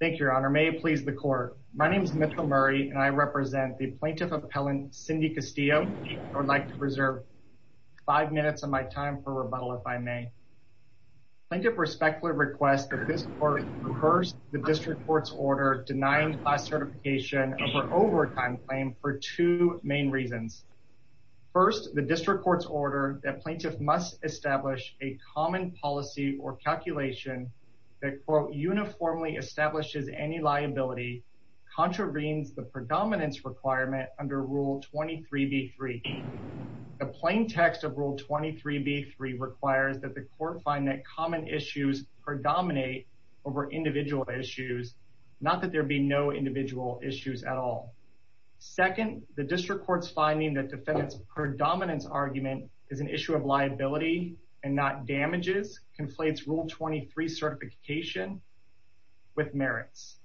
Thank you, Your Honor. May it please the court. My name is Mitchell Murray and I represent the Plaintiff Appellant Cindy Castillo. I would like to reserve five minutes of my time for rebuttal if I may. Plaintiff respectfully requests that this court rehearse the District Court's order denying class certification over overtime claim for two main reasons. First, the District Court's order that plaintiffs must establish a common policy or calculation that, quote, uniformly establishes any liability contravenes the predominance requirement under Rule 23b-3. The plain text of Rule 23b-3 requires that the court find that common issues predominate over individual issues, not that there be no individual issues at all. Second, the District Court's finding that defendants' predominance argument is an issue of liability and not damages conflates Rule 23 certification with merits.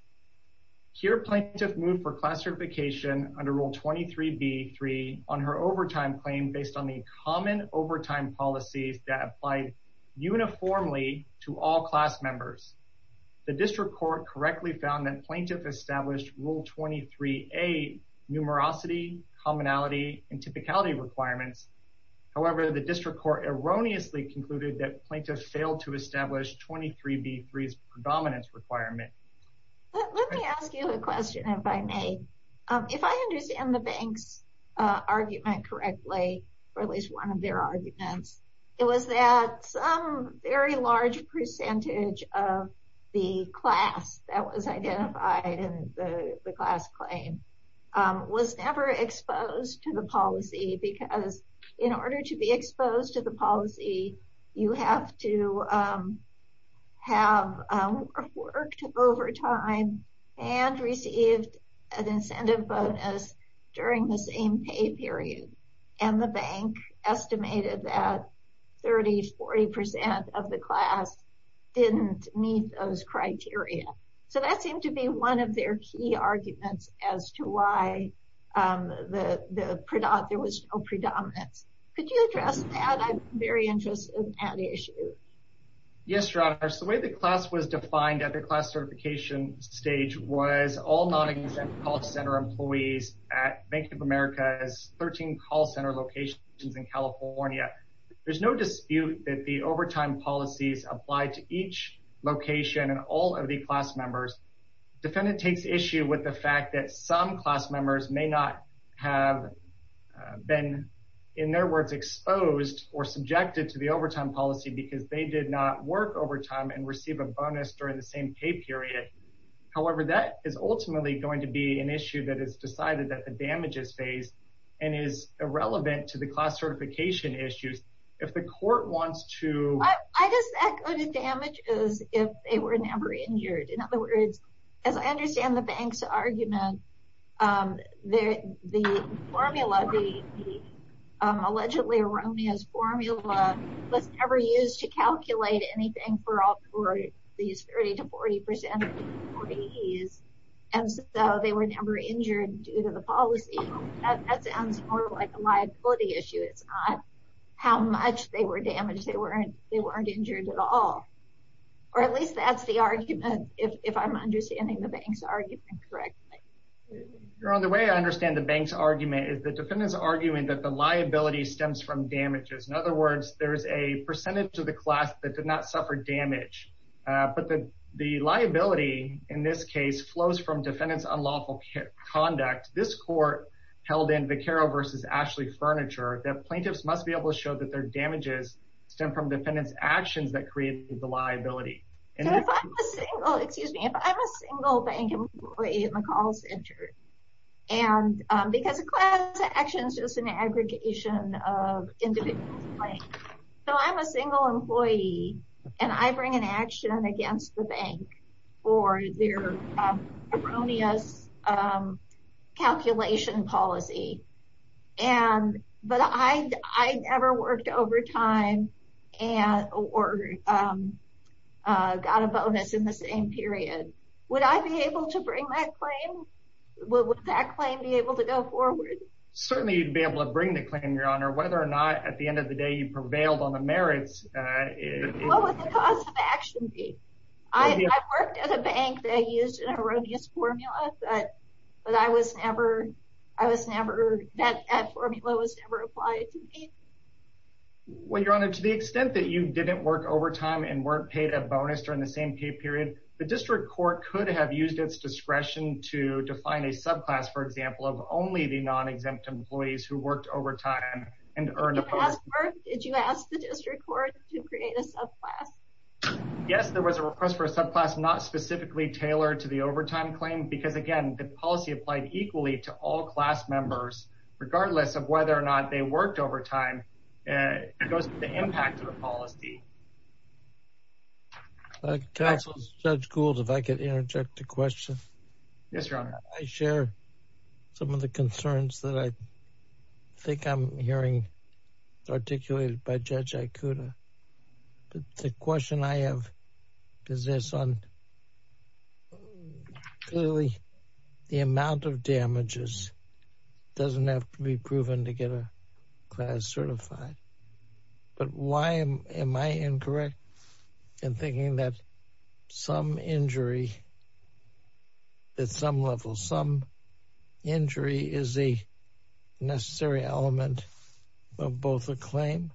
Here, Plaintiff moved for class certification under Rule 23b-3 on her overtime claim based on the common overtime policies that apply uniformly to all class members. The District Court correctly found that Plaintiff established Rule 23a numerosity, commonality, and typicality requirements. However, the court erroneously concluded that Plaintiff failed to establish Rule 23b-3's predominance requirement. Let me ask you a question if I may. If I understand the bank's argument correctly, or at least one of their arguments, it was that some very large percentage of the class that was identified in the class claim was never exposed to the policy because in order to be exposed to the policy, you have to have worked overtime and received an incentive bonus during the same pay period. And the bank estimated that 30-40% of the class didn't meet those criteria. So that seemed to be one of their key arguments as to why there was no predominance. Could you address that? I'm very interested in that issue. Yes, Your Honor. So the way the class was defined at the class certification stage was all non-exempt call center employees at Bank of America's 13 call center locations in California. There's no dispute that the overtime policies applied to each location and all of the class members. Defendant takes issue with the fact that some class members may not have been, in their words, exposed or subjected to the overtime policy because they did not work overtime and receive a bonus during the same pay period. However, that is ultimately going to be an issue that is decided that the damages phase and is irrelevant to the class certification issues. If the court wants to... I just echoed the damages if they were never injured. In other words, as I understand the bank's argument, the formula, the allegedly erroneous formula was never used to calculate anything for these 30-40% employees and so they were never injured due to the policy. That sounds more like a liability issue. It's not how much they were damaged. They weren't injured at all. Or at least that's the argument if I'm understanding the bank's argument correctly. Your Honor, the way I understand the bank's argument is the defendant's arguing that the liability stems from damages. In other words, there's a percentage of the class that did not suffer damage. But the liability in this case flows from defendant's unlawful conduct. This court held in Viqueiro v. Ashley Furniture that plaintiffs must be able to show that their damages stem from defendant's actions that created the liability. Excuse me, if I'm a single bank employee in the call center and because a class action is just an aggregation of individuals. So I'm a single employee and I bring an action against the bank for their erroneous calculation policy. But I never worked overtime or got a bonus in the same period. Would I be able to bring that claim? Would that claim be able to go forward? Certainly you'd be able to bring the claim, Your Honor. Whether or not at the end of the day you worked at a bank that used an erroneous formula, that formula was never applied to me. Well, Your Honor, to the extent that you didn't work overtime and weren't paid a bonus during the same pay period, the district court could have used its discretion to define a subclass, for example, of only the non-exempt employees who worked overtime and earned a bonus. Did you ask the request for a subclass not specifically tailored to the overtime claim? Because again, the policy applied equally to all class members, regardless of whether or not they worked overtime. It goes to the impact of the policy. Counselor, Judge Gould, if I could interject a question. Yes, Your Honor. I share some of the concerns that I think I'm hearing articulated by Judge Ikuda. The question I have is this. Clearly, the amount of damages doesn't have to be proven to get a class certified. But why am I incorrect in thinking that some injury at some level, some injury is a necessary element of both a claim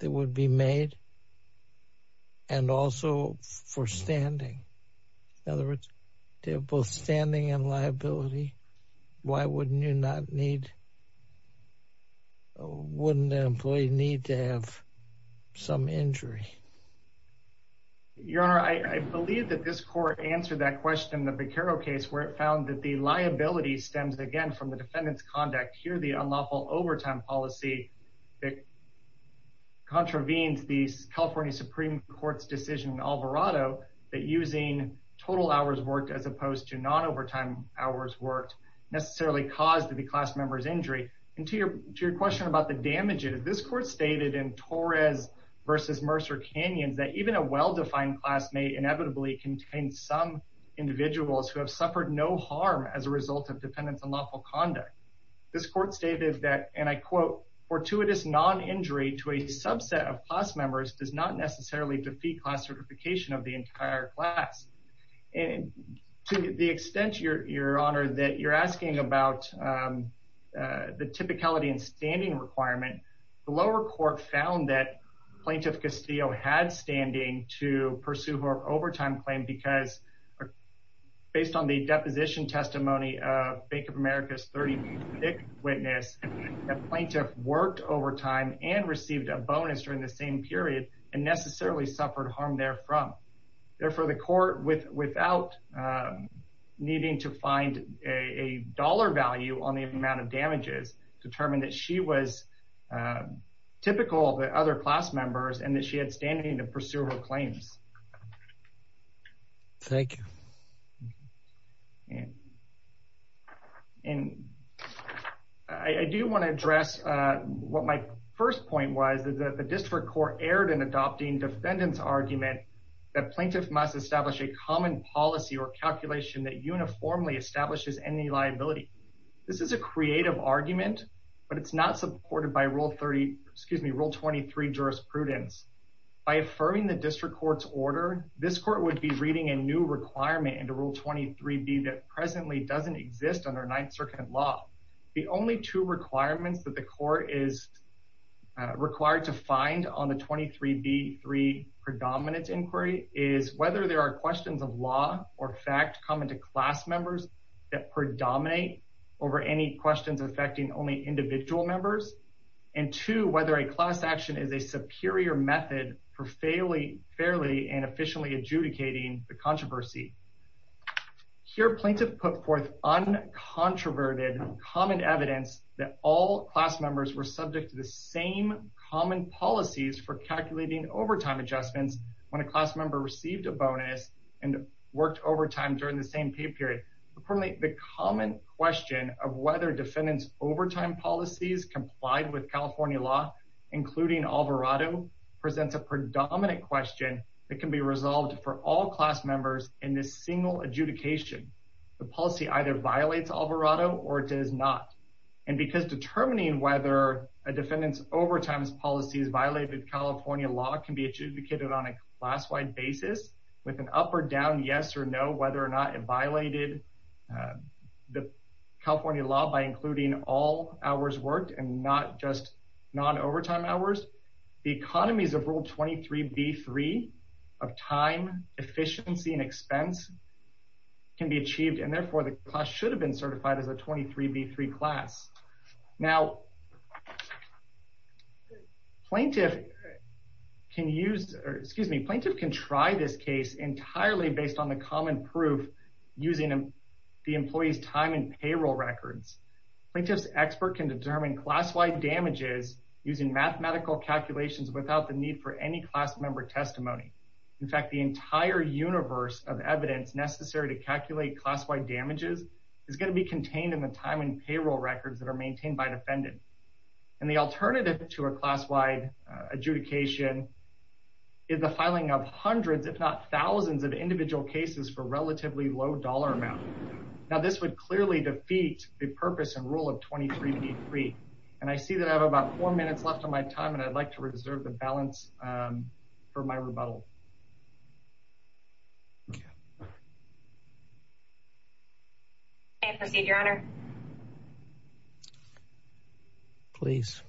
that would be made and also for standing? In other words, to have both standing and liability, why wouldn't you not need, wouldn't an employee need to have some injury? Your Honor, I believe that this court answered that question in the Beccaro case, where it found that the liability stems, again, from the defendant's conduct. Here, the unlawful overtime policy that contravenes the California Supreme Court's decision in Alvarado that using total hours worked as opposed to non-overtime hours worked necessarily caused the class member's injury. And to your question about the damages, this court stated in Torres v. Mercer-Canyons that even a well-defined class may inevitably contain some individuals who have suffered no harm as a result of defendant's unlawful conduct. This court stated that, and I quote, fortuitous non-injury to a subset of class members does not necessarily defeat class certification of the entire class. And to the extent, Your Honor, that you're asking about the typicality and standing requirement, the lower court found that Plaintiff Castillo had standing to pursue her overtime claim because, based on the deposition testimony of Bank of America's 30th witness, the plaintiff worked overtime and received a bonus during the same period and necessarily suffered harm therefrom. Therefore, the court, without needing to find a dollar value on the amount of damages, determined that she was typical, the other class members, and that she had standing to pursue her claims. Thank you. And I do want to address what my first point was, that the district court erred in adopting defendant's argument that plaintiff must establish a common policy or calculation that uniformly establishes any liability. This is a creative argument, but it's not supported by Rule 30, excuse me, Rule 23 jurisprudence. By affirming the district court's order, this court would be reading a new requirement into Rule 23b that presently doesn't exist under Ninth Circuit law. The only two requirements that the court is required to find on the 23b-3 predominance inquiry is whether there are questions of law or fact common to class members that predominate over any questions affecting only individual members, and two, whether a class action is a superior method for fairly and efficiently adjudicating the controversy. Here, plaintiff put forth uncontroverted common evidence that all class members were subject to the same common policies for calculating overtime adjustments when a class member received a bonus and worked overtime during the same pay period. Accordingly, the common question of whether defendant's overtime policies complied with California law, including Alvarado, presents a predominant question that can be resolved for all class members in this single adjudication. The policy either violates Alvarado or it does not. And because determining whether a defendant's overtime policies violated California law can be adjudicated on a class-wide basis with an up or down, yes or no, whether or not it violated the California law by including all hours worked and not just non-overtime hours, the economies of Rule 23b-3 of time, efficiency, and expense can be achieved, and therefore the class should plaintiff can try this case entirely based on the common proof using the employee's time and payroll records. Plaintiff's expert can determine class-wide damages using mathematical calculations without the need for any class member testimony. In fact, the entire universe of evidence necessary to calculate class-wide damages is going to be contained in the time and payroll records that are maintained by defendant. And the alternative to a class-wide adjudication is the filing of hundreds, if not thousands, of individual cases for relatively low dollar amount. Now this would clearly defeat the purpose and rule of 23b-3. And I see that I have about four minutes left on my time and I'd like to reserve the balance for my rebuttal. May I proceed, Your Honor? Please.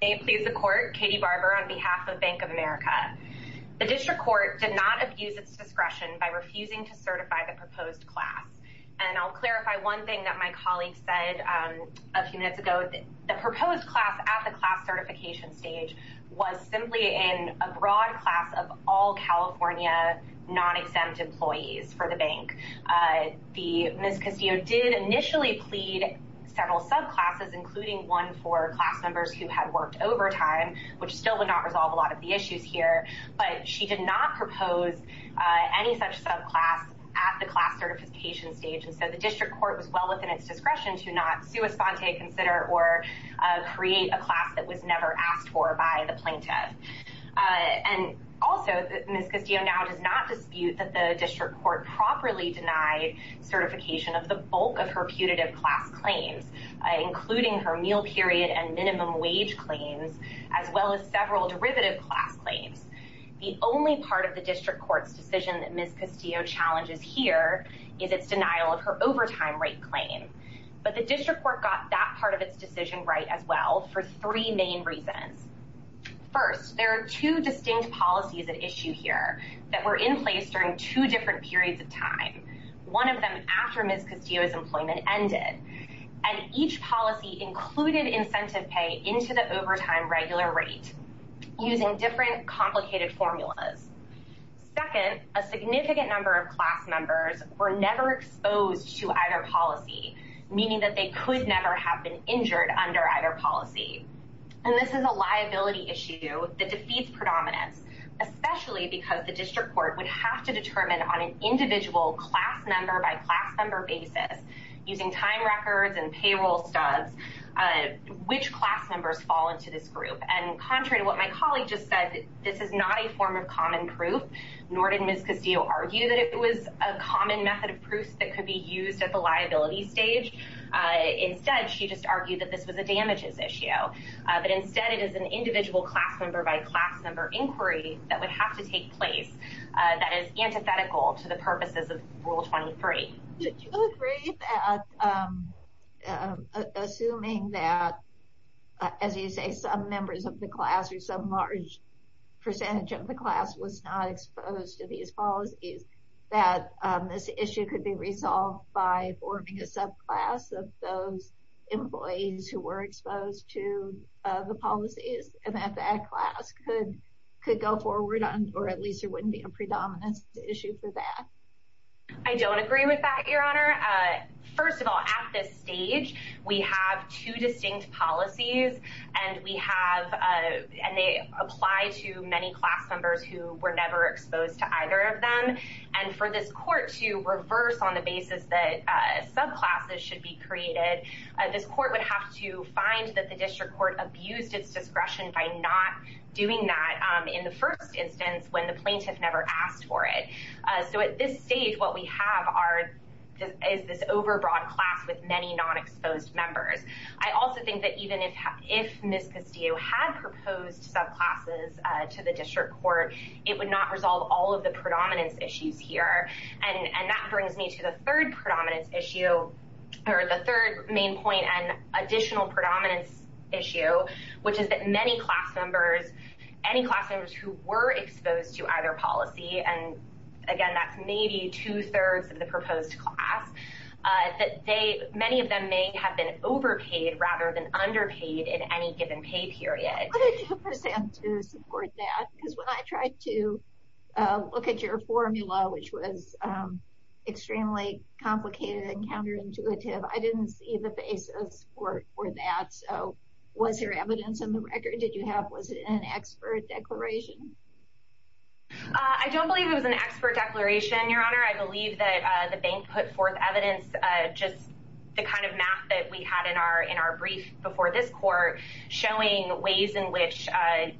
May it please the Court. Katie Barber on behalf of Bank of America. The District Court did not abuse its discretion by refusing to certify the proposed class. And I'll clarify one thing that my colleague said a few minutes ago. The proposed class at the class certification stage was simply in a broad class of all California non-exempt employees for the bank. Ms. Castillo did initially plead several subclasses, including one for class members who had worked overtime, which still would not resolve a lot of the issues here. But she did not propose any such subclass at the class certification stage. And so the District Court was well within its discretion to not sua sponte consider or create a class that was never asked for by the plaintiff. And also, Ms. Castillo now does not dispute that the District Court properly denied certification of the bulk of her putative class claims, including her meal period and minimum wage claims, as well as several derivative class claims. The only part of the District Court's decision that Ms. Castillo challenges here is its denial of her overtime rate claim. But the District Court got that part of its decision right as well for three main reasons. First, there are two distinct policies at issue here that were in place during two different periods of time, one of them after Ms. Castillo's employment ended. And each policy included incentive pay into the overtime regular rate using different complicated formulas. Second, a significant number of class members were never exposed to either policy, meaning that they could never have been injured under either policy. And this is a liability issue that defeats predominance, especially because the District Court would have to determine on an individual class member by class member basis, using time records and payroll studs, which class members fall into this group. And contrary to what my colleague just said, this is not a form of common proof, nor did Ms. Castillo argue that it was a common method of proof that could be used at the liability stage. Instead, she just argued that this was a damages issue. But instead, it is an individual class member by class member inquiry that would have to take place that is antithetical to the purposes of Rule 23. Did you agree that, assuming that, as you say, some members of the class or some large percentage of the class was not exposed to these policies, that this issue could be resolved by forming a subclass of those employees who were exposed to the policies, and that that class could go forward, or at least there wouldn't be a predominance issue for that? I don't agree with that, Your Honor. First of all, at this stage, we have two distinct policies, and they apply to many class members who were never exposed to either of them. And for this court to reverse on the basis that subclasses should be created, this court would have to find that the district court abused its discretion by not doing that in the first instance when the plaintiff never asked for it. So at this stage, what we have is this if Ms. Castillo had proposed subclasses to the district court, it would not resolve all of the predominance issues here. And that brings me to the third predominance issue, or the third main point and additional predominance issue, which is that many class members, any class members who were exposed to either policy, and again, that's maybe two-thirds of the proposed class, that they, many of them may have been overpaid rather than underpaid in any given pay period. What did you present to support that? Because when I tried to look at your formula, which was extremely complicated and counterintuitive, I didn't see the basis for that. So was there evidence in the record? Did you have, was it an expert declaration? I don't believe it was an expert declaration, Your Honor. I believe that the bank put forth just the kind of math that we had in our brief before this court showing ways in which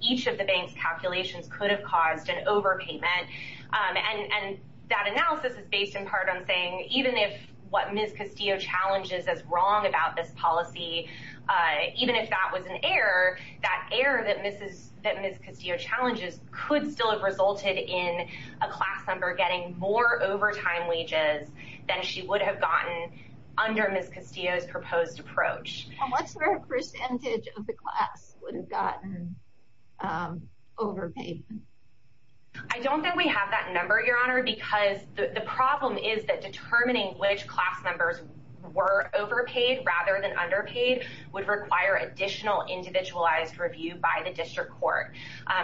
each of the bank's calculations could have caused an overpayment. And that analysis is based in part on saying even if what Ms. Castillo challenges is wrong about this policy, even if that was an error, that error that Ms. Castillo challenges could still have resulted in a class member getting more overtime wages than she would have gotten under Ms. Castillo's proposed approach. And what's the percentage of the class would have gotten overpaid? I don't think we have that number, Your Honor, because the problem is that determining which class members were overpaid rather than underpaid would require additional individualized review by district court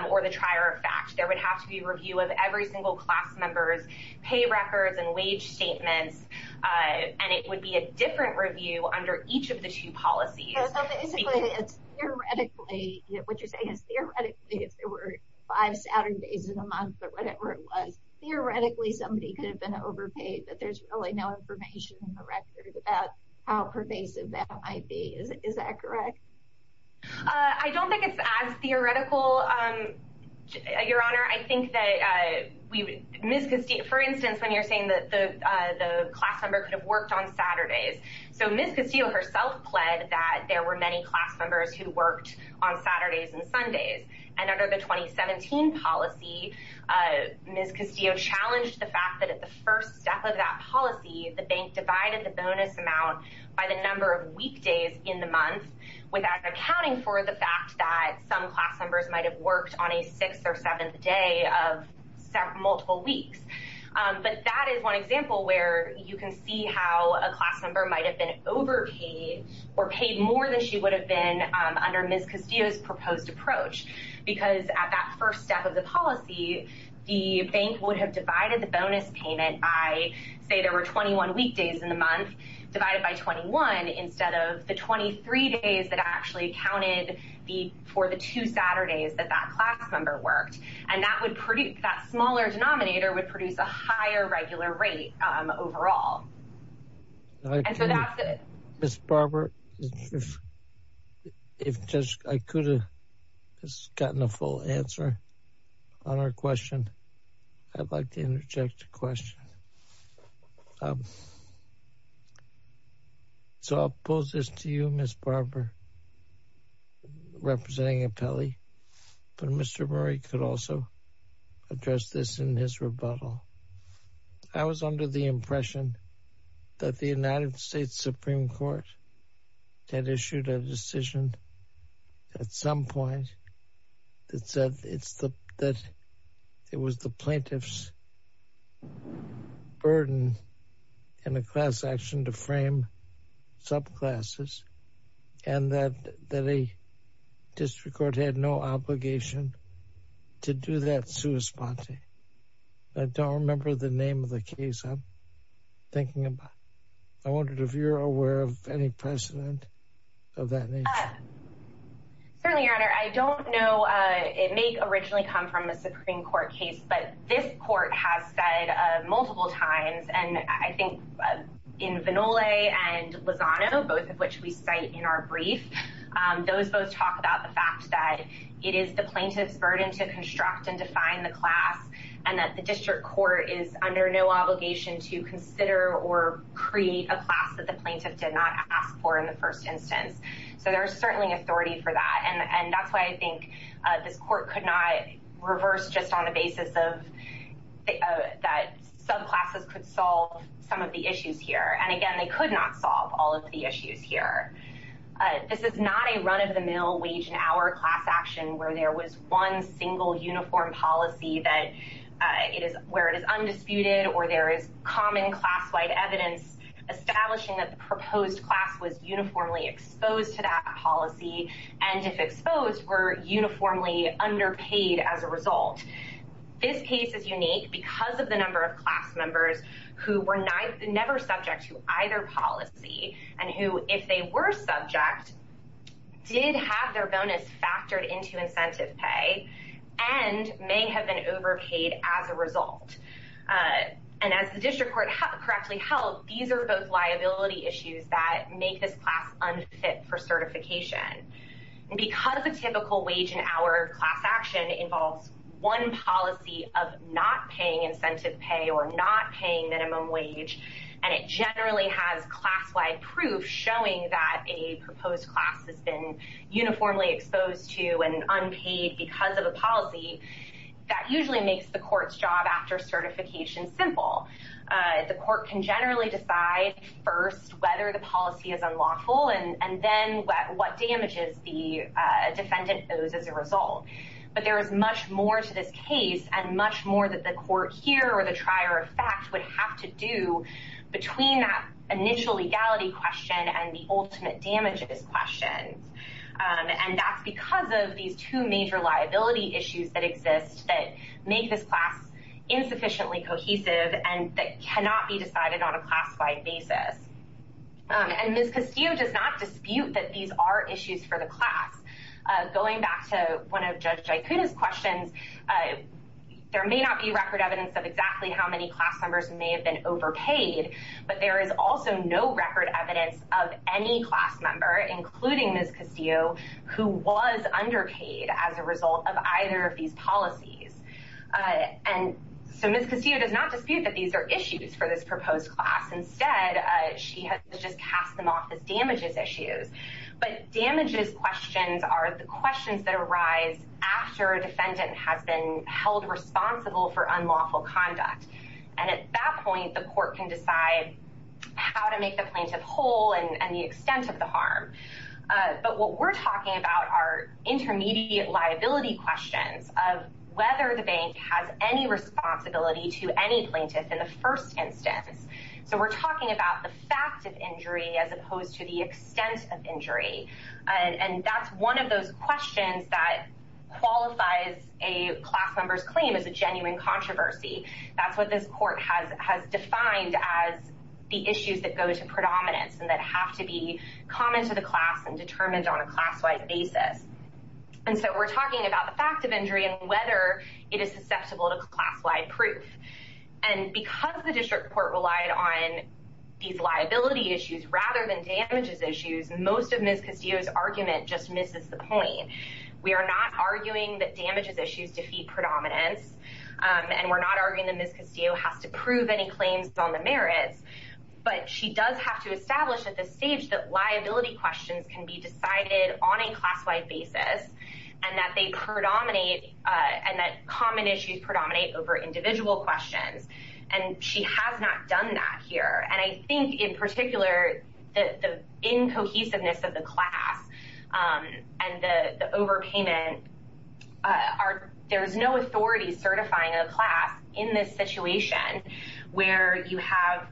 or the trier of fact. There would have to be review of every single class member's pay records and wage statements, and it would be a different review under each of the two policies. So basically it's theoretically, what you're saying is theoretically if there were five Saturdays in a month or whatever it was, theoretically somebody could have been overpaid, but there's really no information in the record about how pervasive that might be. Is that correct? I don't think it's as theoretical, Your Honor. I think that we, Ms. Castillo, for instance, when you're saying that the class member could have worked on Saturdays, so Ms. Castillo herself pled that there were many class members who worked on Saturdays and Sundays, and under the 2017 policy, Ms. Castillo challenged the fact that at the first step of that policy, the bank divided the bonus amount by the number of weekdays in the month without accounting for the fact that some class members might have worked on a sixth or seventh day of multiple weeks. But that is one example where you can see how a class member might have been overpaid or paid more than she would have been under Ms. Castillo's proposed approach, because at that first step of the policy, the bank would have divided the bonus payment by, say, there were 21 weekdays in the month, divided by 21 instead of the 23 days that actually accounted for the two Saturdays that that class member worked. And that would produce, that smaller denominator would produce a higher regular rate overall. And so that's it. Ms. Barber, if I could have just gotten a full answer on our question, I'd like to interject a question. So I'll pose this to you, Ms. Barber, representing Apelli, but Mr. Murray could also address this in his rebuttal. I was under the impression that the United States Supreme Court had issued a decision at some point that said that it was the plaintiff's burden in a class action to frame subclasses, and that a district court had no obligation to do that sua sponte. I don't remember the name of the case I'm thinking about. I wondered if you're aware of any precedent of that nature. Certainly, Your Honor. I don't know. It may originally come from a Supreme Court case, but this court has said multiple times, and I think in Vinole and Lozano, both of which we cite in our brief, those both talk about the fact that it is the plaintiff's burden to construct and define the class, and that the district court is under no obligation to consider or create a class the plaintiff did not ask for in the first instance. So there's certainly authority for that, and that's why I think this court could not reverse just on the basis of that subclasses could solve some of the issues here. And again, they could not solve all of the issues here. This is not a run-of-the-mill, wage-and-hour class action where there was one single, uniform policy where it is undisputed or there is common class-wide evidence establishing that the proposed class was uniformly exposed to that policy, and if exposed, were uniformly underpaid as a result. This case is unique because of the number of class members who were never subject to either policy, and who, if they were subject, did have their bonus factored into incentive pay and may have been overpaid as a result. And as the district court correctly held, these are both liability issues that make this class unfit for certification. Because a typical wage-and-hour class action involves one policy of not paying incentive pay or not paying minimum wage, and it generally has class-wide proof showing that a proposed class has been uniformly exposed to and unpaid because of a policy, that usually makes the court's job after certification simple. The court can generally decide first whether the policy is unlawful and then what damages the defendant owes as a result. But there is much more to this case and much more that the court here or the trier of fact would have to do between that initial legality question and the ultimate damages questions. And that's because of these two major liability issues that exist that make this class insufficiently cohesive and that cannot be decided on a class-wide basis. And Ms. Castillo does not dispute that these are issues for the class. Going back to one of Judge Jaicuda's questions, there may not be record evidence of exactly how many class members may have been overpaid, but there is also no record evidence of any class member, including Ms. Castillo, who was underpaid as a result of either of these policies. And so Ms. Castillo does not dispute that these are issues for this proposed class. Instead, she has just cast them off as damages issues. But damages questions are the questions that arise after a defendant has been held responsible for unlawful conduct. And at that point, the court can decide how to make the plaintiff whole and the extent of the harm. But what we're talking about are intermediate liability questions of whether the bank has any responsibility to any plaintiff in the first instance. So we're talking about the fact of injury as opposed to the extent of injury. And that's one of those questions that qualifies a class member's claim as a genuine controversy. That's what this has to be common to the class and determined on a class-wide basis. And so we're talking about the fact of injury and whether it is susceptible to class-wide proof. And because the district court relied on these liability issues rather than damages issues, most of Ms. Castillo's argument just misses the point. We are not arguing that damages issues defeat predominance, and we're not arguing that Ms. Castillo has to prove any claims on the merits. But she does have to establish at this stage that liability questions can be decided on a class-wide basis and that they predominate and that common issues predominate over individual questions. And she has not done that here. And I think in particular, the incohesiveness of the class and the overpayment, there's no authority certifying a class in this situation where you have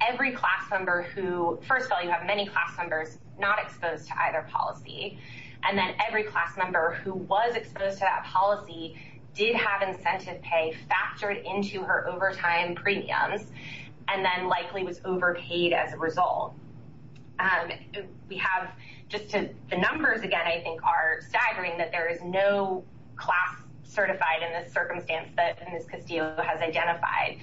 every class member who, first of all, you have many class members not exposed to either policy. And then every class member who was exposed to that policy did have incentive pay factored into her overtime premiums and then likely was overpaid as a result. We have just to the numbers, again, I think are staggering that there is no class certified in this circumstance that Ms. Castillo has identified.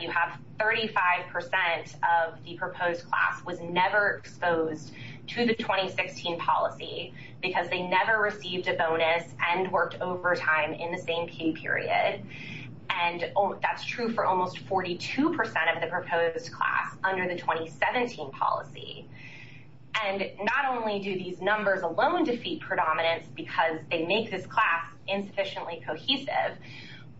You have 35 percent of the proposed class was never exposed to the 2016 policy because they never received a bonus and worked overtime in the same key period. And that's true for almost 42 percent of the proposed class under the 2017 policy. And not only do these numbers alone defeat predominance because they make this class insufficiently cohesive,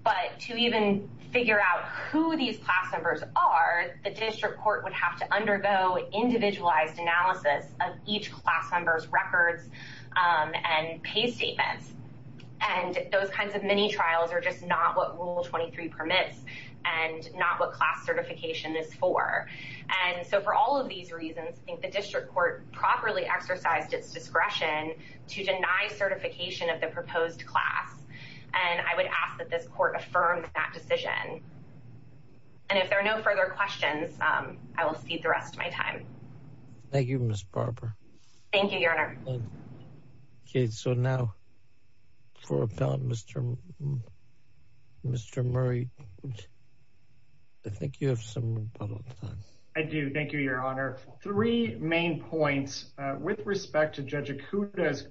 but to even figure out who these class members are, the district court would have to undergo individualized analysis of each class member's records and pay statements. And those kinds of mini trials are just not what Rule 23 permits and not what class certification is for. And so for all of these reasons, I think the district court properly exercised its discretion to deny certification of the proposed class. And I will feed the rest of my time. Thank you, Ms. Barber. Thank you, Your Honor. Okay, so now for Mr. Murray, I think you have some time. I do. Thank you, Your Honor. Three main points with respect to Judge Acuda's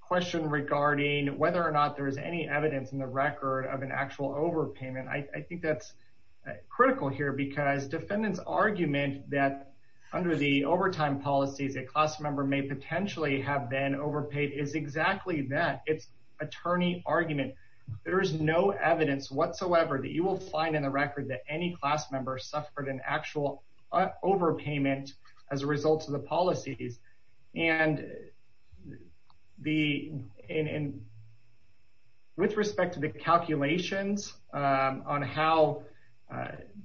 question regarding whether or not there is any evidence in the record of an actual overpayment. I think that's critical here because defendants' argument that under the overtime policies, a class member may potentially have been overpaid is exactly that. It's attorney argument. There is no evidence whatsoever that you will find in the record that any class member suffered an actual overpayment as a result of the policies. And with respect to the calculations, on how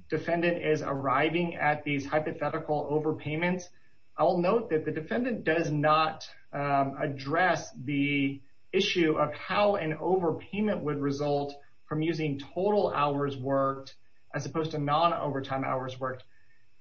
defendant is arriving at these hypothetical overpayments, I'll note that the defendant does not address the issue of how an overpayment would result from using total hours worked as opposed to non-overtime hours worked.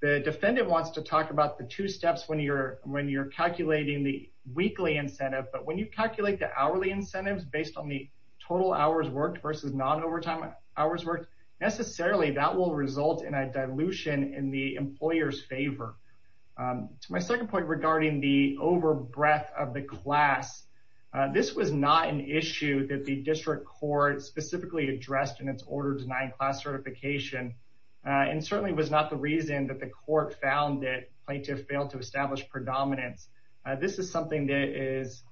The defendant wants to talk about the two steps when you're calculating the weekly incentive. But when you calculate the hourly incentives based on the total hours worked versus non-overtime hours worked, necessarily that will result in a dilution in the employer's favor. To my second point regarding the over-breath of the class, this was not an issue that the district court specifically addressed in its order denying class certification, and certainly was not the reason that the court found that plaintiffs failed to establish predominance. This is something that is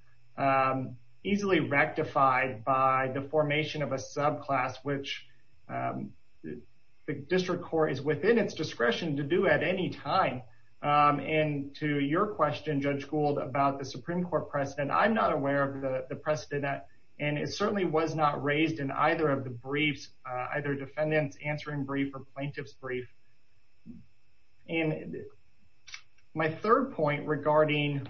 easily rectified by the formation of a subclass, which the district court is within its discretion to do at any time. And to your question, Judge Gould, about the Supreme Court precedent, I'm not aware of the precedent, and it certainly was not raised in either of the briefs, either defendant's answering brief or plaintiff's brief. And my third point regarding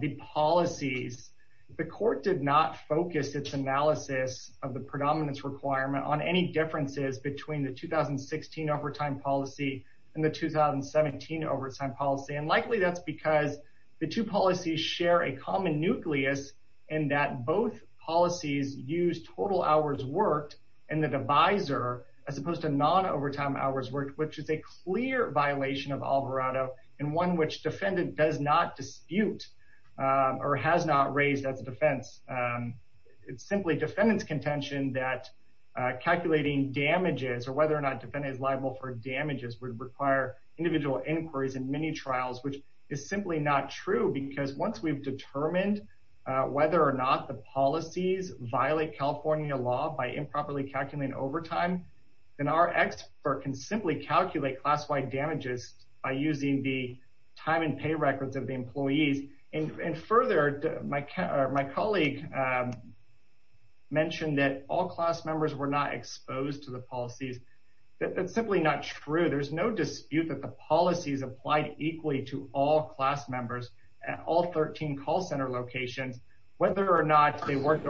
the policies, the court did not focus its analysis of the predominance requirement on any differences between the 2016 overtime policy and the 2017 overtime policy. And likely that's because the two policies share a common nucleus in that both policies use total hours worked and the divisor as opposed to non-overtime hours worked, which is a clear violation of Alvarado and one which defendant does not dispute or has not raised as a defense. It's simply defendant's contention that calculating damages or whether or not defendant is liable for damages would require individual inquiries and many trials, which is simply not true because once we've determined whether or not the policies violate California law by improperly calculating overtime, then our expert can simply calculate class-wide damages by using the time and pay records of the employees. And further, my colleague mentioned that all class members were not exposed to the policies. That's simply not true. There's no dispute that the policies applied equally to all class members at all 13 call center locations, whether or not they bonus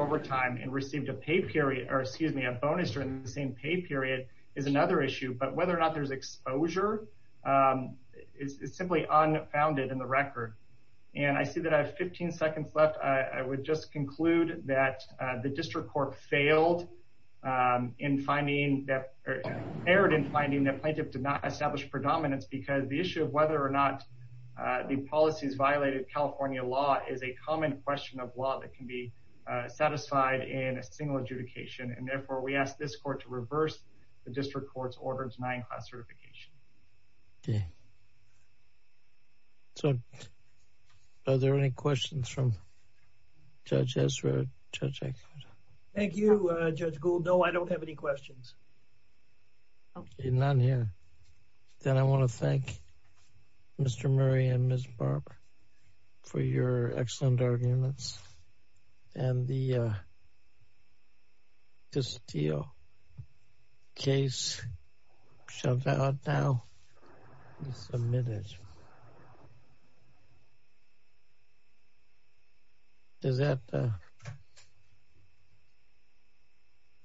during the same pay period is another issue, but whether or not there's exposure is simply unfounded in the record. And I see that I have 15 seconds left. I would just conclude that the district court failed in finding that, erred in finding that plaintiff did not establish predominance because the issue of whether or not the policies violated California law is a common question of law that can be satisfied in a single adjudication. And therefore we ask this court to reverse the district court's order denying class certification. Okay. So are there any questions from Judge Ezra? Thank you, Judge Gould. No, I don't have any questions. Okay, none here. Then I want to thank Mr. Murray and Ms. Barber for your excellent arguments and the, uh, this deal case shut out now, submitted. Does that, uh,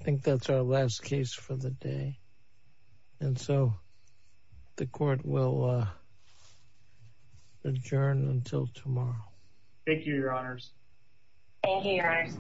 I think that's our last case for the day. And so the court will, uh, adjourn until tomorrow. Thank you, Your Honors. Thank you, Your Honors.